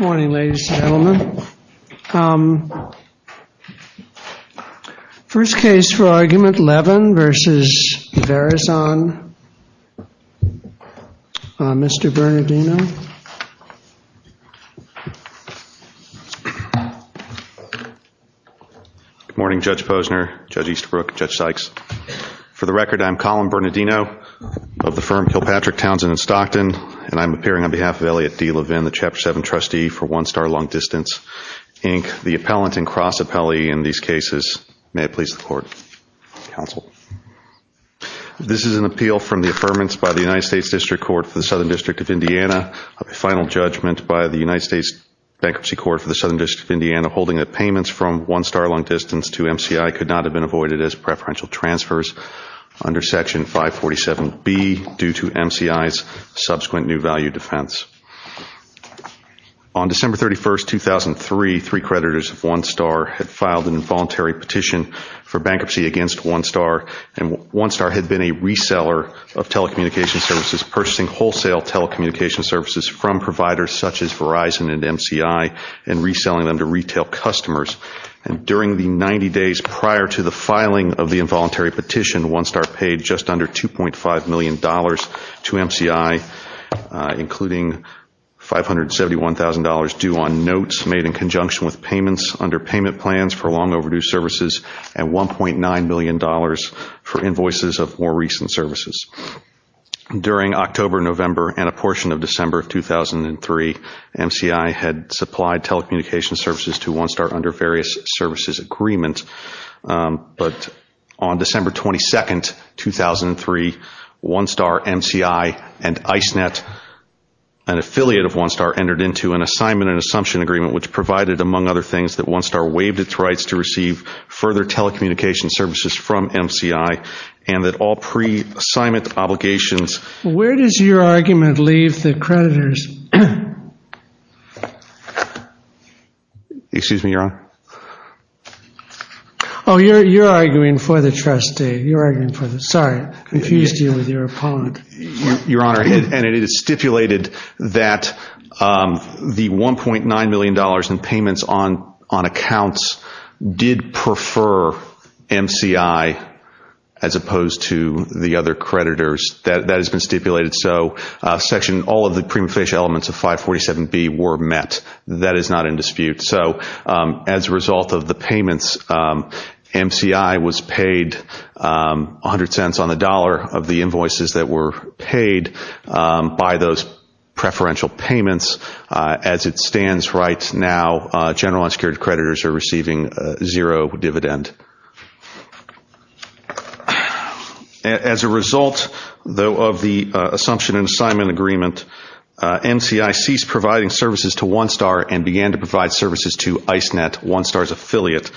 Morning, ladies and gentlemen. First case for argument Levin versus Verizon, Mr. Bernardino. Good morning, Judge Posner, Judge Eastbrook, Judge Sykes. For the record, I'm Colin Bernardino of the firm Kilpatrick, Townsend & Stockton, and I'm appearing on behalf of Elliot D. Levin, the Chapter 7 trustee for One Star Long Distance, Inc., the appellant and cross appellee in these cases. May it please the court. Counsel. This is an appeal from the affirmance by the United States District Court for the Southern District of Indiana of a final judgment by the United States Bankruptcy Court for the Southern District of Indiana holding that payments from One Star Long Distance to MCI could not have been avoided as a result due to MCI's subsequent new value defense. On December 31, 2003, three creditors of One Star had filed an involuntary petition for bankruptcy against One Star, and One Star had been a reseller of telecommunications services, purchasing wholesale telecommunications services from providers such as Verizon and MCI and reselling them to retail customers. And during the 90 days prior to the filing of the petition, MCI received $1.9 million in overdue services from providers to MCI, including $571,000 due on notes made in conjunction with payments under payment plans for long overdue services, and $1.9 million for invoices of more recent services. During October, November, and a portion of December of 2003, MCI had supplied telecommunications services to One Star under various services agreements. But on December 22, 2003, One Star MCI and ICENET, an affiliate of One Star, entered into an assignment and assumption agreement, which provided, among other things, that One Star waived its rights to receive further telecommunications services from MCI, and that all pre-assignment obligations... Where does your argument leave the creditors... Excuse me, Your Honor? Oh, you're arguing for the trustee. You're arguing for the... Sorry, I confused you with your opponent. Your Honor, and it is stipulated that the $1.9 million in payments on accounts did prefer MCI as opposed to the other creditors. That has been stipulated. So Section... All of the prima facie elements of 547B were met. That is not in dispute. So, as a result of the payments, MCI was paid 100 cents on the dollar of the invoices that were paid by those preferential payments. As it stands right now, general unsecured creditors are receiving zero dividend. As a result, though, of the assumption and assignment agreement, MCI ceased providing services to One Star and began to provide services to ICENET, One Star's affiliate.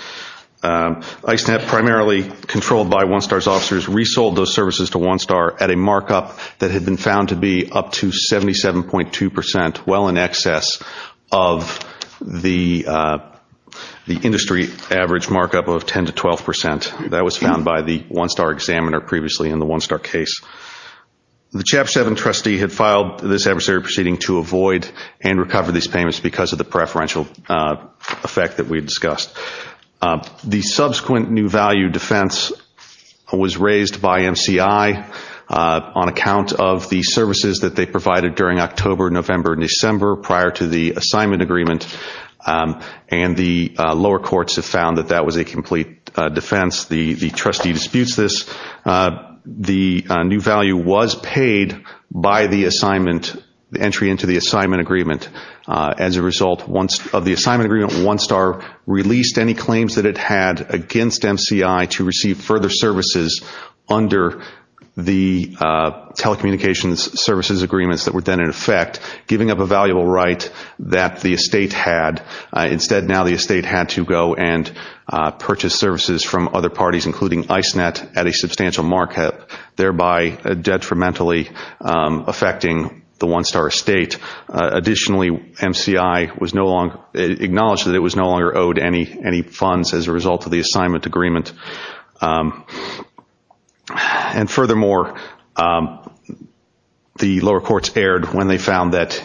ICENET, primarily controlled by One Star's officers, resold those services to One Star at a markup that had been found to be up to 77.2 percent, well in excess of the industry average markup of 10 to 12 percent. That was found by the One Star examiner previously in the One Star case. The CHAP 7 trustee had filed this adversary proceeding to avoid and recover these payments because of the preferential effect that we discussed. The subsequent new value defense was raised by MCI on account of the services that they provided during October, November, and December prior to the assignment agreement, and the lower courts have found that that was a complete defense. The trustee disputes this. The new value was paid by the entry into the assignment agreement. As a result of the assignment agreement, One Star released any claims that it had against MCI to receive further services under the telecommunications services agreements that were then in effect, giving up a valuable right that the estate had. MCI was able to go and purchase services from other parties, including ICENET, at a substantial markup, thereby detrimentally affecting the One Star estate. Additionally, MCI acknowledged that it was no longer owed any funds as a result of the assignment agreement. Furthermore, the lower courts erred when they found that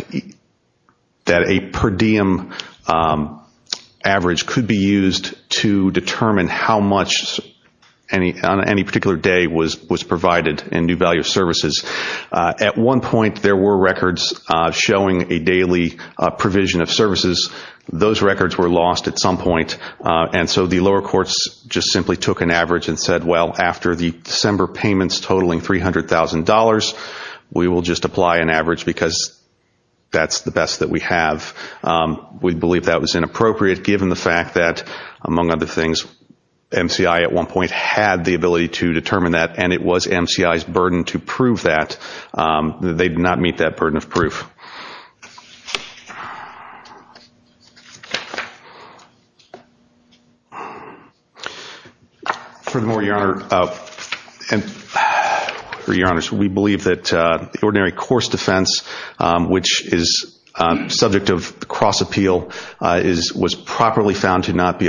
a per diem average could be used to determine how much on any particular day was provided in new value services. At one point, there were records showing a daily provision of services. Those records were lost at some point, and so the lower courts just simply took an average and said, well, after the December payments totaling $300,000, we will just apply an average because that's the best that we have. We believe that was inappropriate given the fact that, among other things, MCI at one point had the ability to determine that, and it was MCI's burden to prove that. They did not meet that burden of proof. Furthermore, Your Honor, we believe that the ordinary course defense, which is subject of cross-appeal, was properly found to not be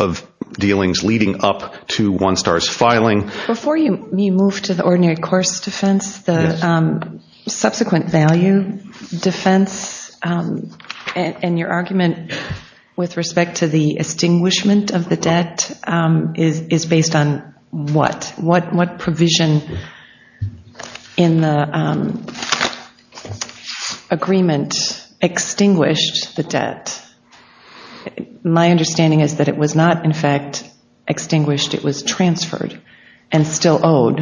of dealings leading up to One Star's filing. Before you move to the ordinary course defense, the subsequent value defense and your argument with respect to the extinguishment of the debt, my understanding is that it was not, in fact, extinguished. It was transferred and still owed.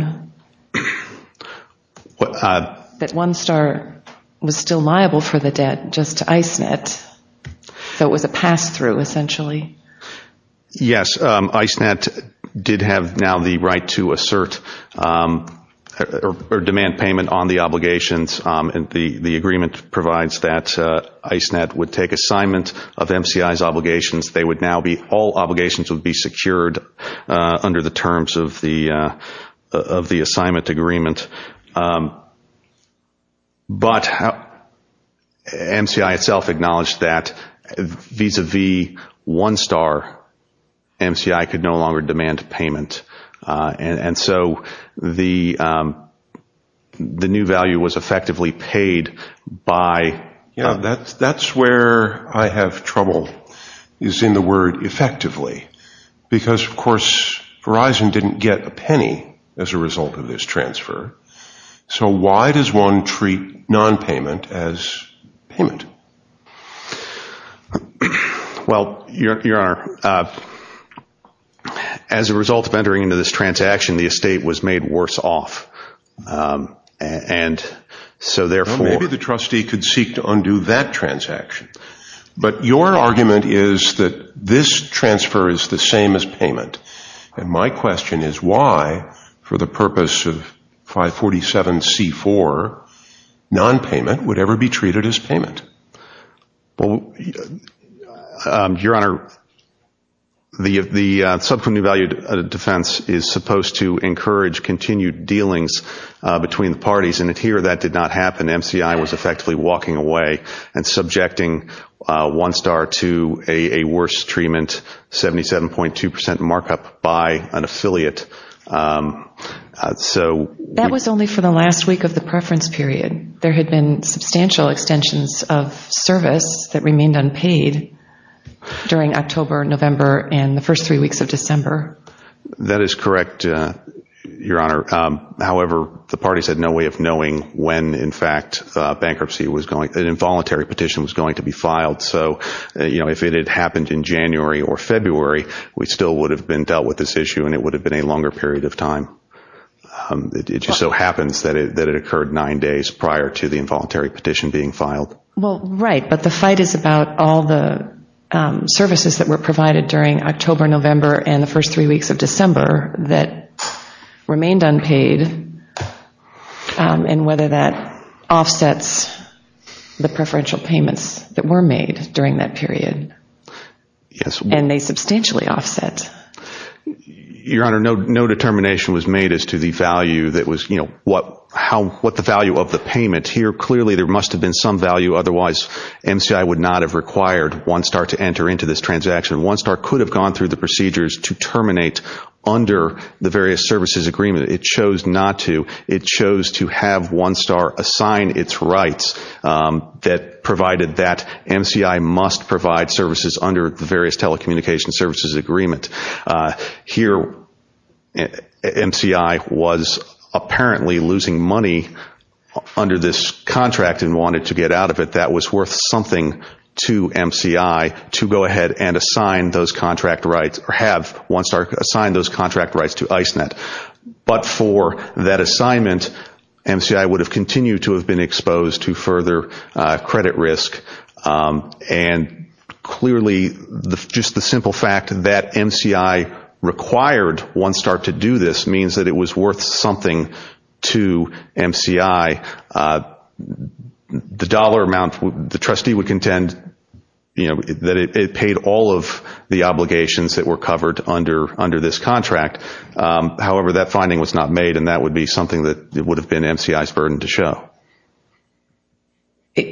That One Star was still liable for the debt just to ICENET, so it was a pass-through, essentially. Yes, ICENET did have now the right to assert or demand payment on the obligations. The agreement provides that ICENET would take a new assignment of MCI's obligations. All obligations would be secured under the terms of the assignment agreement. But MCI itself acknowledged that vis-à-vis One Star, MCI could no longer demand payment. That's where I have trouble, is in the word effectively. Because, of course, Verizon didn't get a penny as a result of this transfer. So why does one treat non-payment as payment? Well, Your Honor, as a result of entering into this transaction, the estate was made worse off. Maybe the trustee could seek to undo that transaction. But your argument is that this transfer is the same as payment. And my question is why, for the purpose of 547C4, non-payment would ever be treated as payment? Well, Your Honor, the subcommittee value defense is supposed to encourage continued dealings between the parties. And here that did not happen. MCI was effectively walking away and subjecting One Star to a worse treatment, 77.2% markup by an affiliate. That was only for the last week of the preference period. There had been substantial extensions of service that remained unpaid during October, November, and the first three weeks of December. That is correct, Your Honor. However, the parties had no way of knowing when, in fact, bankruptcy was going, an involuntary petition was going to be filed. So if it had happened in January or February, we still would have been dealt with this issue and it would have been a longer period of time. It just so happens that it occurred nine days prior to the involuntary petition being filed. Well, right, but the fight is about all the services that were provided during October, November, and the first three weeks of December that remained unpaid and whether that offsets the preferential payments that were made during that period. Yes. And they substantially offset. Your Honor, no determination was made as to the value that was, you know, what the value of the payment. Here clearly there must have been some value, otherwise MCI would not have required One Star to enter into this transaction. One Star could have gone through the procedures to terminate under the various services agreement. It chose not to. It chose to have One Star assign its rights that provided that MCI must provide services under the various telecommunications services agreement. Here MCI was apparently losing money under this contract and wanted to get out of it. That was worth something to MCI to go ahead and assign those contract rights or have One Star assign those contract rights to ICENET. But for that assignment, MCI would have continued to have been exposed to further credit risk. And clearly just the simple fact that MCI required One Star to do this means that it was worth something to MCI. The dollar amount, the trustee would contend, you know, that it paid all of the obligations that were covered under this contract. However, that finding was not made and that would be something that would have been MCI's burden to show.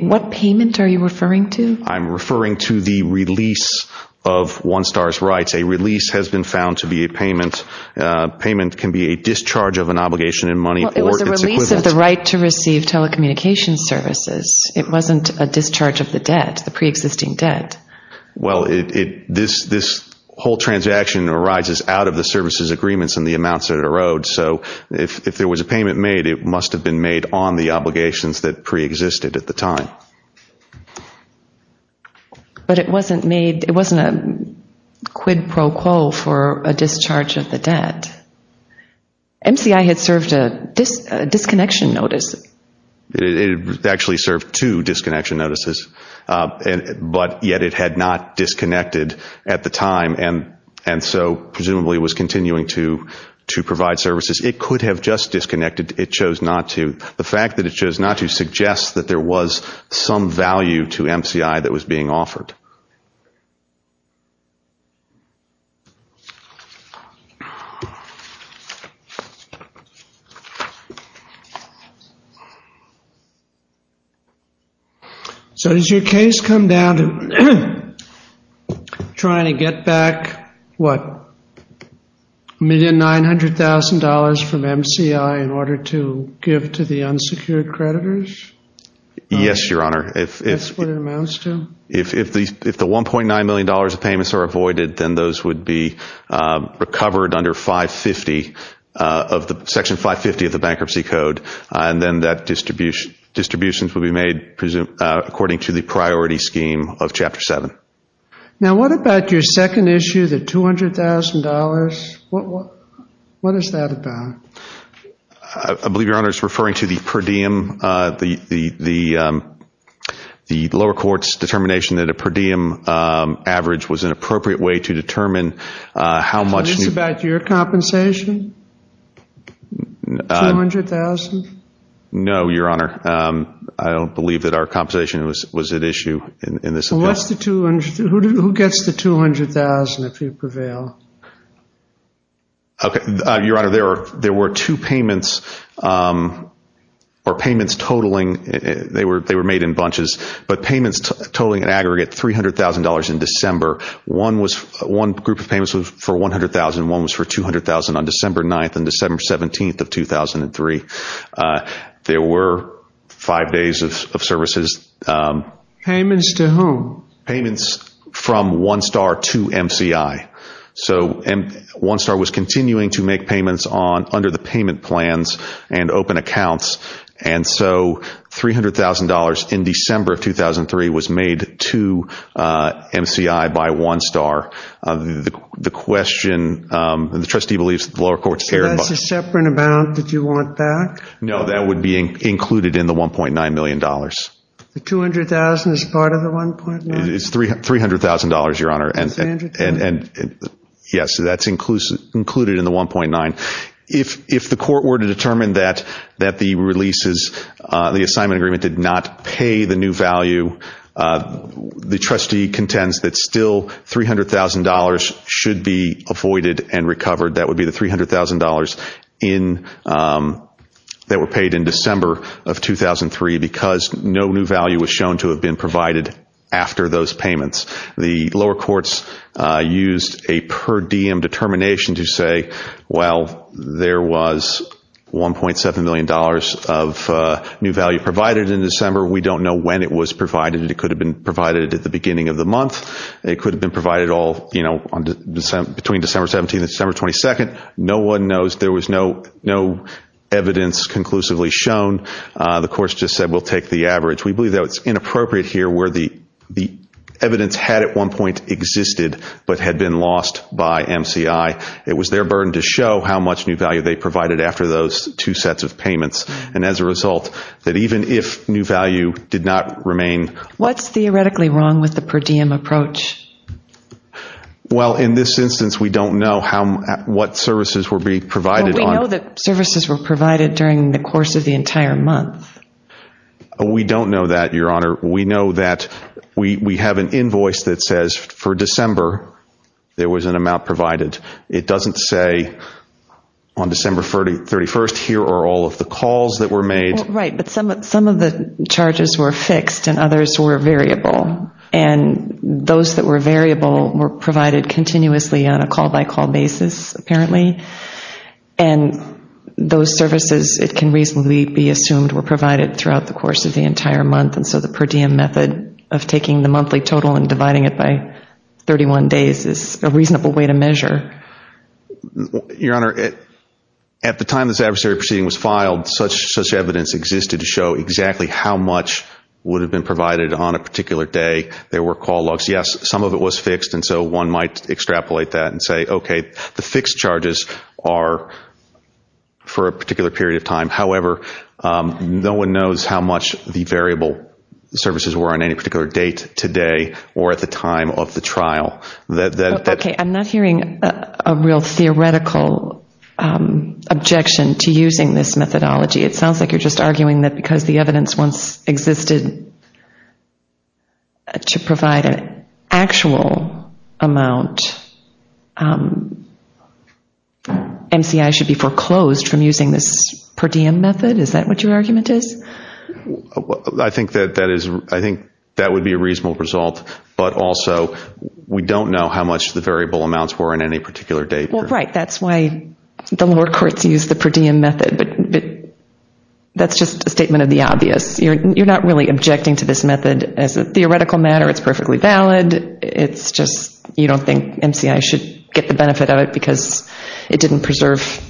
What payment are you referring to? I'm referring to the release of One Star's rights. A release has been found to be a payment. Payment can be a discharge of an obligation in money or its equivalent. Well, it was a release of the right to receive telecommunications services. It wasn't a discharge of the debt, the preexisting debt. Well, this whole transaction arises out of the services agreements and the amounts that it erodes. So if there was a payment made, it must have been made on the obligations that preexisted at the time. But it wasn't made, it wasn't a quid pro quo for a discharge of the debt. It actually served two disconnection notices. But yet it had not disconnected at the time and so presumably was continuing to provide services. It could have just disconnected. The fact that it chose not to suggests that there was some value to MCI that was being offered. So does your case come down to trying to get back, what, $1,900,000 from MCI in order to give to the unsecured creditors? Yes, Your Honor. That's what it amounts to? If the $1.9 million of payments are avoided, then those would be recovered under Section 550 of the Bankruptcy Code. And then that distribution would be made according to the priority scheme of Chapter 7. Now what about your second issue, the $200,000? What is that about? I believe Your Honor is referring to the per diem, the lower court's determination that a per diem average was an appropriate way to determine how much... Is this about your compensation? $200,000? No, Your Honor. I don't believe that our compensation was at issue in this affair. Who gets the $200,000 if you prevail? Your Honor, there were two payments, or payments totaling, they were made in bunches, but payments totaling an aggregate $300,000 in December. One group of payments was for $100,000 and one was for $200,000 on December 9th and December 17th of 2003. There were five days of services. Payments to whom? Payments from OneStar to MCI. So OneStar was continuing to make payments under the payment plans and open accounts. And so $300,000 in December of 2003 was made to MCI by OneStar. The question, the trustee believes that the lower court's... So that's a separate amount that you want back? No, that would be included in the $1.9 million. The $200,000 is part of the $1.9? It's $300,000, Your Honor. $300,000? Yes, that's included in the $1.9. If the court were to determine that the releases, the assignment agreement did not pay the new value, the trustee contends that still $300,000 should be avoided and recovered. That would be the $300,000 that were paid in December of 2003 because no new value was shown to have been provided after those payments. The lower courts used a per diem determination to say, well, there was $1.7 million of new value provided in December. We don't know when it was provided. It could have been provided at the beginning of the month. It could have been provided between December 17th and December 22nd. No one knows. There was no evidence conclusively shown. The courts just said we'll take the average. We believe that it's inappropriate here where the evidence had at one point existed but had been lost by MCI. It was their burden to show how much new value they provided after those two sets of payments, and as a result, that even if new value did not remain... What's theoretically wrong with the per diem approach? Well, in this instance, we don't know what services were being provided. We know that services were provided during the course of the entire month. We don't know that, Your Honor. We know that we have an invoice that says for December there was an amount provided. It doesn't say on December 31st here are all of the calls that were made. Right, but some of the charges were fixed and others were variable, and those that were variable were provided continuously on a call-by-call basis apparently, and those services, it can reasonably be assumed, were provided throughout the course of the entire month, and so the per diem method of taking the monthly total and dividing it by 31 days is a reasonable way to measure. Your Honor, at the time this adversary proceeding was filed, such evidence existed to show exactly how much would have been provided on a particular day. There were call logs. Yes, some of it was fixed, and so one might extrapolate that and say, okay, the fixed charges are for a particular period of time. However, no one knows how much the variable services were on any particular date today or at the time of the trial. Okay, I'm not hearing a real theoretical objection to using this methodology. It sounds like you're just arguing that because the evidence once existed to provide an actual amount, MCI should be foreclosed from using this per diem method? Is that what your argument is? I think that would be a reasonable result, but also we don't know how much the variable amounts were on any particular date. Well, right. That's why the lower courts used the per diem method, but that's just a statement of the obvious. You're not really objecting to this method as a theoretical matter. It's perfectly valid. It's just you don't think MCI should get the benefit of it because it didn't preserve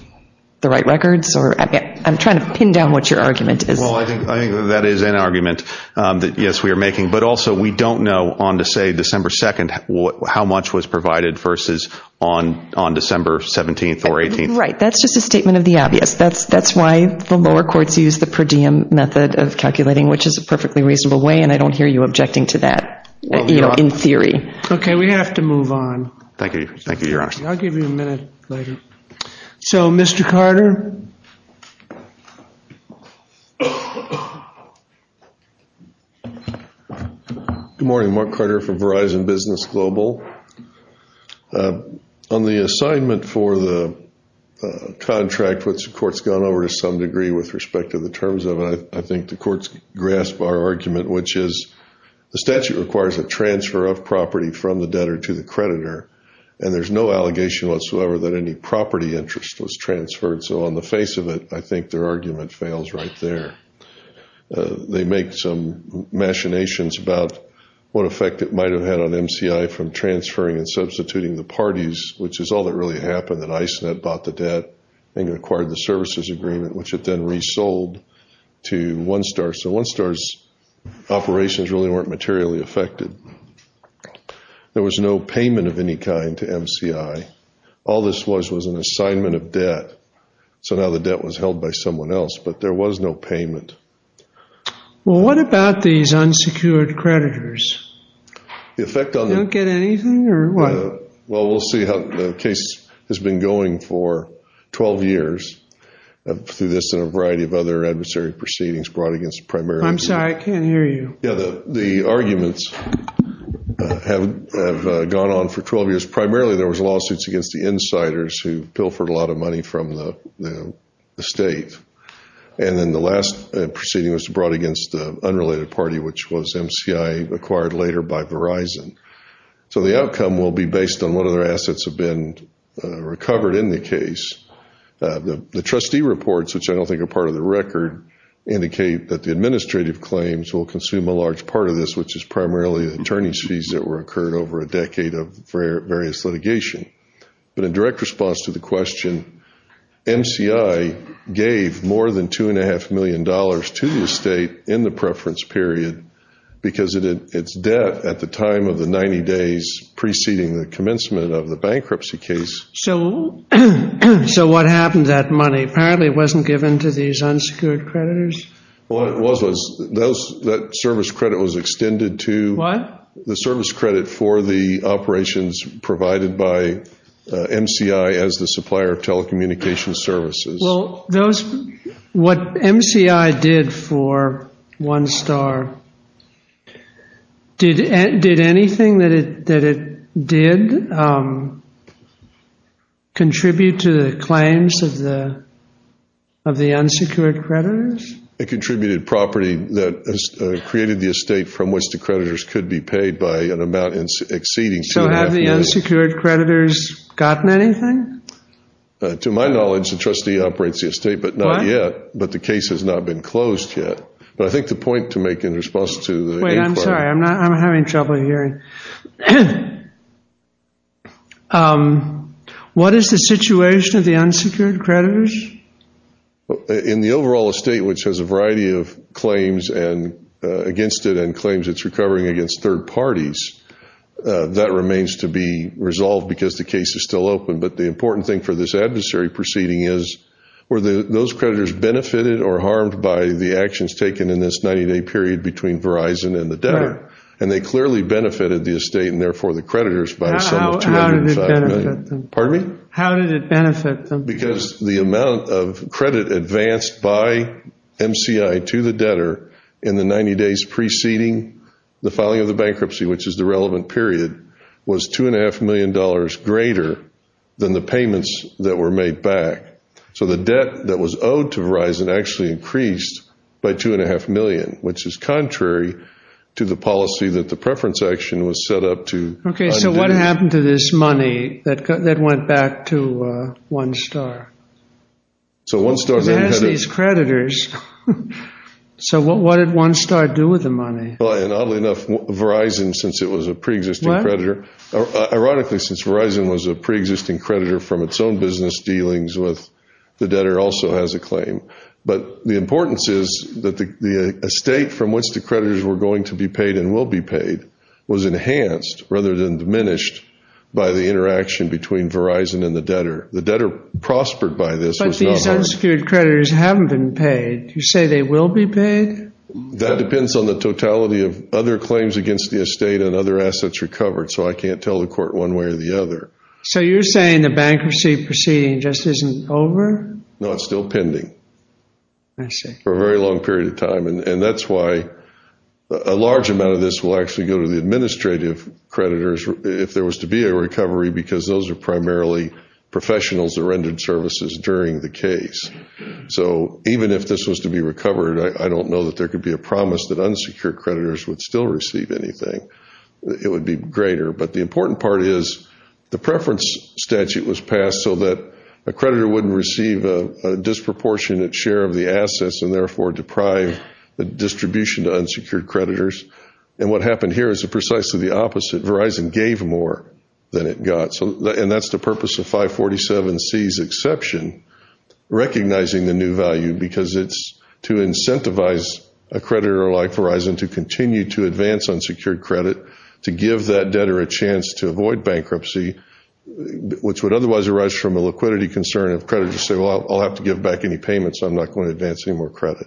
the right records? I'm trying to pin down what your argument is. Well, I think that is an argument that, yes, we are making, but also we don't know on, say, December 2nd how much was provided versus on December 17th or 18th. Right. That's just a statement of the obvious. That's why the lower courts used the per diem method of calculating, which is a perfectly reasonable way, and I don't hear you objecting to that in theory. Okay, we have to move on. I'll give you a minute, lady. So, Mr. Carter. Good morning. Mark Carter for Verizon Business Global. On the assignment for the contract, which the court's gone over to some degree with respect to the terms of it, I think the court's grasped our argument, which is the statute requires a transfer of property from the debtor to the creditor, and there's no allegation whatsoever that any property interest was transferred. So on the face of it, I think their argument fails right there. They make some machinations about what effect it might have had on MCI from transferring and substituting the parties, which is all that really happened, that ICENET bought the debt and acquired the services agreement, which it then resold to OneStar. So OneStar's operations really weren't materially affected. There was no payment of any kind to MCI. All this was was an assignment of debt. So now the debt was held by someone else, but there was no payment. Well, what about these unsecured creditors? The effect on them? Don't get anything, or what? Well, we'll see how the case has been going for 12 years through this and a variety of other adversary proceedings brought against the primary. I'm sorry, I can't hear you. Yeah, the arguments have gone on for 12 years. Primarily there was lawsuits against the insiders who pilfered a lot of money from the state, and then the last proceeding was brought against the unrelated party, which was MCI acquired later by Verizon. So the outcome will be based on what other assets have been recovered in the case. The trustee reports, which I don't think are part of the record, indicate that the administrative claims will consume a large part of this, which is primarily the attorney's fees that were incurred over a decade of various litigation. But in direct response to the question, MCI gave more than $2.5 million to the state in the preference period because its debt at the time of the 90 days preceding the commencement of the bankruptcy case. So what happened to that money? Apparently it wasn't given to these unsecured creditors? Well, it was. That service credit was extended to the service credit for the operations provided by MCI as the supplier of telecommunications services. Well, what MCI did for OneStar, did anything that it did contribute to the claims of the unsecured creditors? It contributed property that created the estate from which the creditors could be paid by an amount exceeding $2.5 million. So have the unsecured creditors gotten anything? To my knowledge, the trustee operates the estate, but not yet. But the case has not been closed yet. But I think the point to make in response to the inquiry. Wait, I'm sorry. I'm having trouble hearing. What is the situation of the unsecured creditors? In the overall estate, which has a variety of claims against it and claims it's recovering against third parties, that remains to be resolved because the case is still open. But the important thing for this adversary proceeding is, were those creditors benefited or harmed by the actions taken in this 90-day period between Verizon and the debtor? And they clearly benefited the estate and, therefore, the creditors by the sum of $2.5 million. How did it benefit them? Pardon me? How did it benefit them? Because the amount of credit advanced by MCI to the debtor in the 90 days preceding the filing of the bankruptcy, which is the relevant period, was $2.5 million greater than the payments that were made back. So the debt that was owed to Verizon actually increased by $2.5 million, which is contrary to the policy that the preference action was set up to undo. Okay, so what happened to this money that went back to OneStar? So OneStar then had to… It has these creditors. So what did OneStar do with the money? Oddly enough, Verizon, since it was a preexisting creditor, ironically since Verizon was a preexisting creditor from its own business dealings with the debtor, also has a claim. But the importance is that the estate from which the creditors were going to be paid and will be paid was enhanced rather than diminished by the interaction between Verizon and the debtor. The debtor prospered by this. But these unsecured creditors haven't been paid. You say they will be paid? That depends on the totality of other claims against the estate and other assets recovered, so I can't tell the court one way or the other. So you're saying the bankruptcy proceeding just isn't over? No, it's still pending. I see. For a very long period of time, and that's why a large amount of this will actually go to the administrative creditors if there was to be a recovery because those are primarily professionals that rendered services during the case. So even if this was to be recovered, I don't know that there could be a promise that unsecured creditors would still receive anything. It would be greater. But the important part is the preference statute was passed so that a creditor wouldn't receive a disproportionate share of the assets and therefore deprive the distribution to unsecured creditors. And what happened here is precisely the opposite. Verizon gave more than it got. And that's the purpose of 547C's exception, recognizing the new value, because it's to incentivize a creditor like Verizon to continue to advance unsecured credit, to give that debtor a chance to avoid bankruptcy, which would otherwise arise from a liquidity concern if creditors say, well, I'll have to give back any payments. I'm not going to advance any more credit.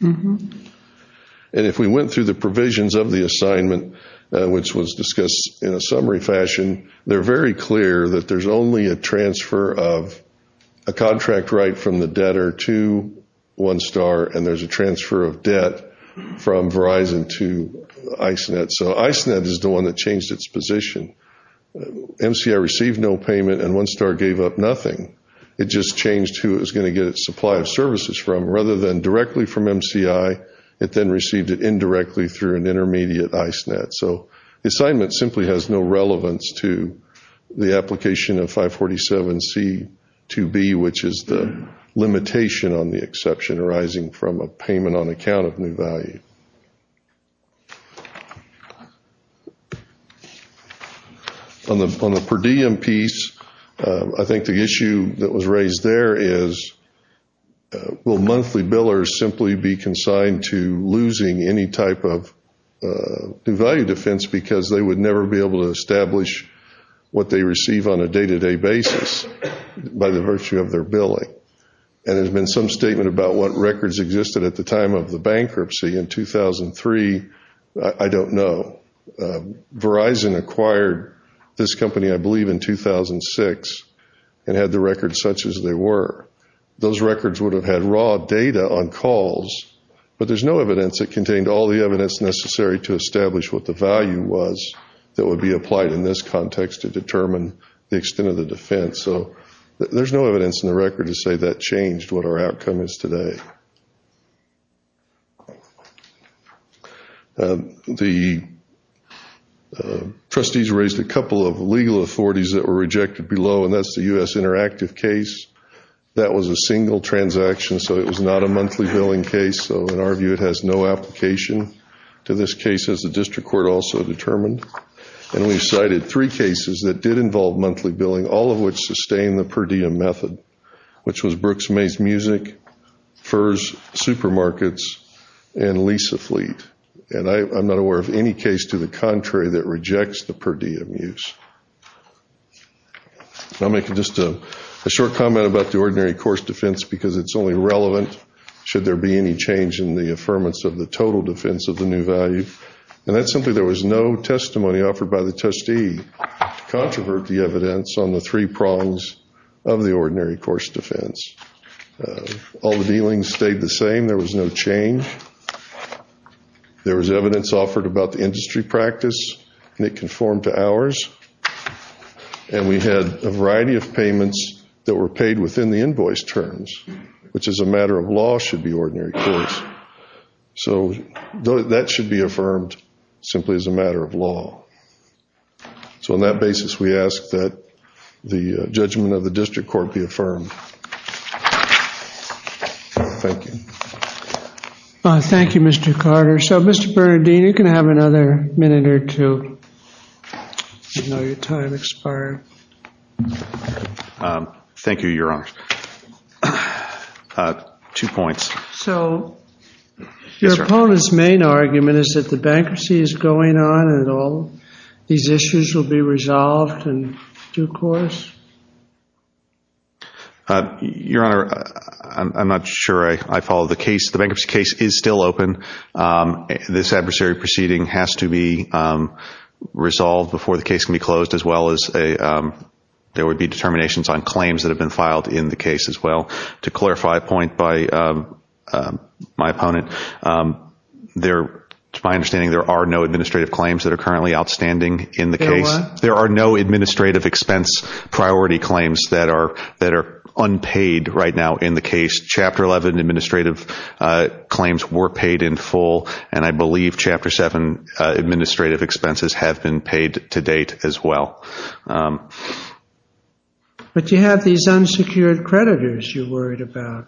And if we went through the provisions of the assignment, which was discussed in a summary fashion, they're very clear that there's only a transfer of a contract right from the debtor to OneStar, and there's a transfer of debt from Verizon to ISNET. So ISNET is the one that changed its position. MCI received no payment, and OneStar gave up nothing. It just changed who it was going to get its supply of services from. Rather than directly from MCI, it then received it indirectly through an intermediate ISNET. So the assignment simply has no relevance to the application of 547C2B, which is the limitation on the exception arising from a payment on account of new value. On the per diem piece, I think the issue that was raised there is, will monthly billers simply be consigned to losing any type of new value defense because they would never be able to establish what they receive on a day-to-day basis by the virtue of their billing? And there's been some statement about what records existed at the time of the bankruptcy in 2003. I don't know. Verizon acquired this company, I believe, in 2006 and had the records such as they were. Those records would have had raw data on calls, but there's no evidence that contained all the evidence necessary to establish what the value was that would be applied in this context to determine the extent of the defense. So there's no evidence in the record to say that changed what our outcome is today. The trustees raised a couple of legal authorities that were rejected below, and that's the U.S. Interactive case. That was a single transaction, so it was not a monthly billing case. So in our view, it has no application to this case, as the district court also determined. And we cited three cases that did involve monthly billing, all of which sustained the per diem method, which was Brooks-Mays Music, FERS Supermarkets, and Lisa Fleet. And I'm not aware of any case to the contrary that rejects the per diem use. I'll make just a short comment about the ordinary course defense because it's only relevant should there be any change in the affirmance of the total defense of the new value. And that's simply there was no testimony offered by the trustee to controvert the evidence on the three prongs of the ordinary course defense. All the dealings stayed the same. There was no change. There was evidence offered about the industry practice, and it conformed to ours. And we had a variety of payments that were paid within the invoice terms, which as a matter of law should be ordinary course. So that should be affirmed simply as a matter of law. So on that basis, we ask that the judgment of the district court be affirmed. Thank you. Thank you, Mr. Carter. So, Mr. Bernardine, you can have another minute or two. I know your time expired. Thank you, Your Honor. Two points. So your opponent's main argument is that the bankruptcy is going on and all these issues will be resolved in due course? Your Honor, I'm not sure I follow the case. The bankruptcy case is still open. This adversary proceeding has to be resolved before the case can be closed, as well as there would be determinations on claims that have been filed in the case as well. To clarify a point by my opponent, to my understanding there are no administrative claims that are currently outstanding in the case. There are no administrative expense priority claims that are unpaid right now in the case. Chapter 11 administrative claims were paid in full, and I believe Chapter 7 administrative expenses have been paid to date as well. But you have these unsecured creditors you're worried about.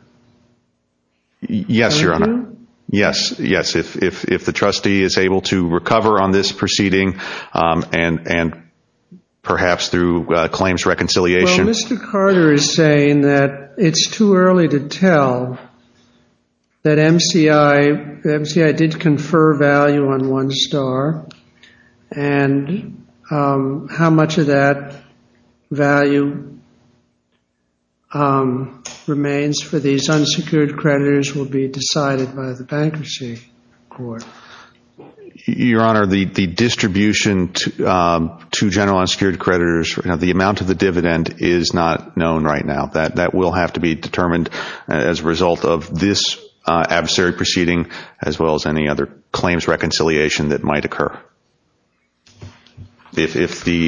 Yes, Your Honor. Do you? Yes, yes. If the trustee is able to recover on this proceeding and perhaps through claims reconciliation. Well, Mr. Carter is saying that it's too early to tell that MCI did confer value on one star and how much of that value remains for these unsecured creditors will be decided by the bankruptcy court. Your Honor, the distribution to general unsecured creditors, the amount of the dividend is not known right now. That will have to be determined as a result of this adversary proceeding, as well as any other claims reconciliation that might occur. If the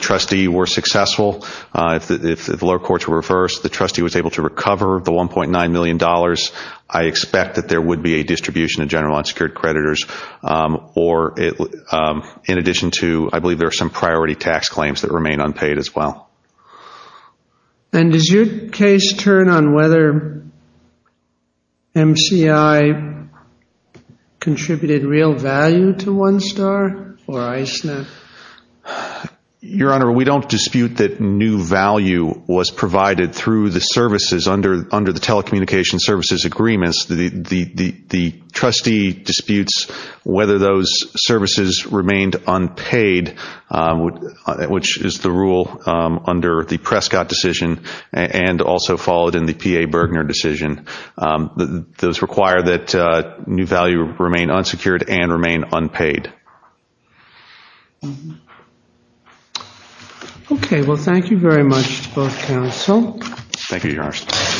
trustee were successful, if the lower courts were reversed, the trustee was able to recover the $1.9 million, I expect that there would be a distribution to general unsecured creditors. Or in addition to, I believe there are some priority tax claims that remain unpaid as well. And does your case turn on whether MCI contributed real value to one star or ISNA? Your Honor, we don't dispute that new value was provided through the services under the telecommunications services agreements. The trustee disputes whether those services remained unpaid, which is the rule under the Prescott decision and also followed in the P.A. Bergner decision. Those require that new value remain unsecured and remain unpaid. Okay. Well, thank you very much to both counsel. Thank you, Your Honor.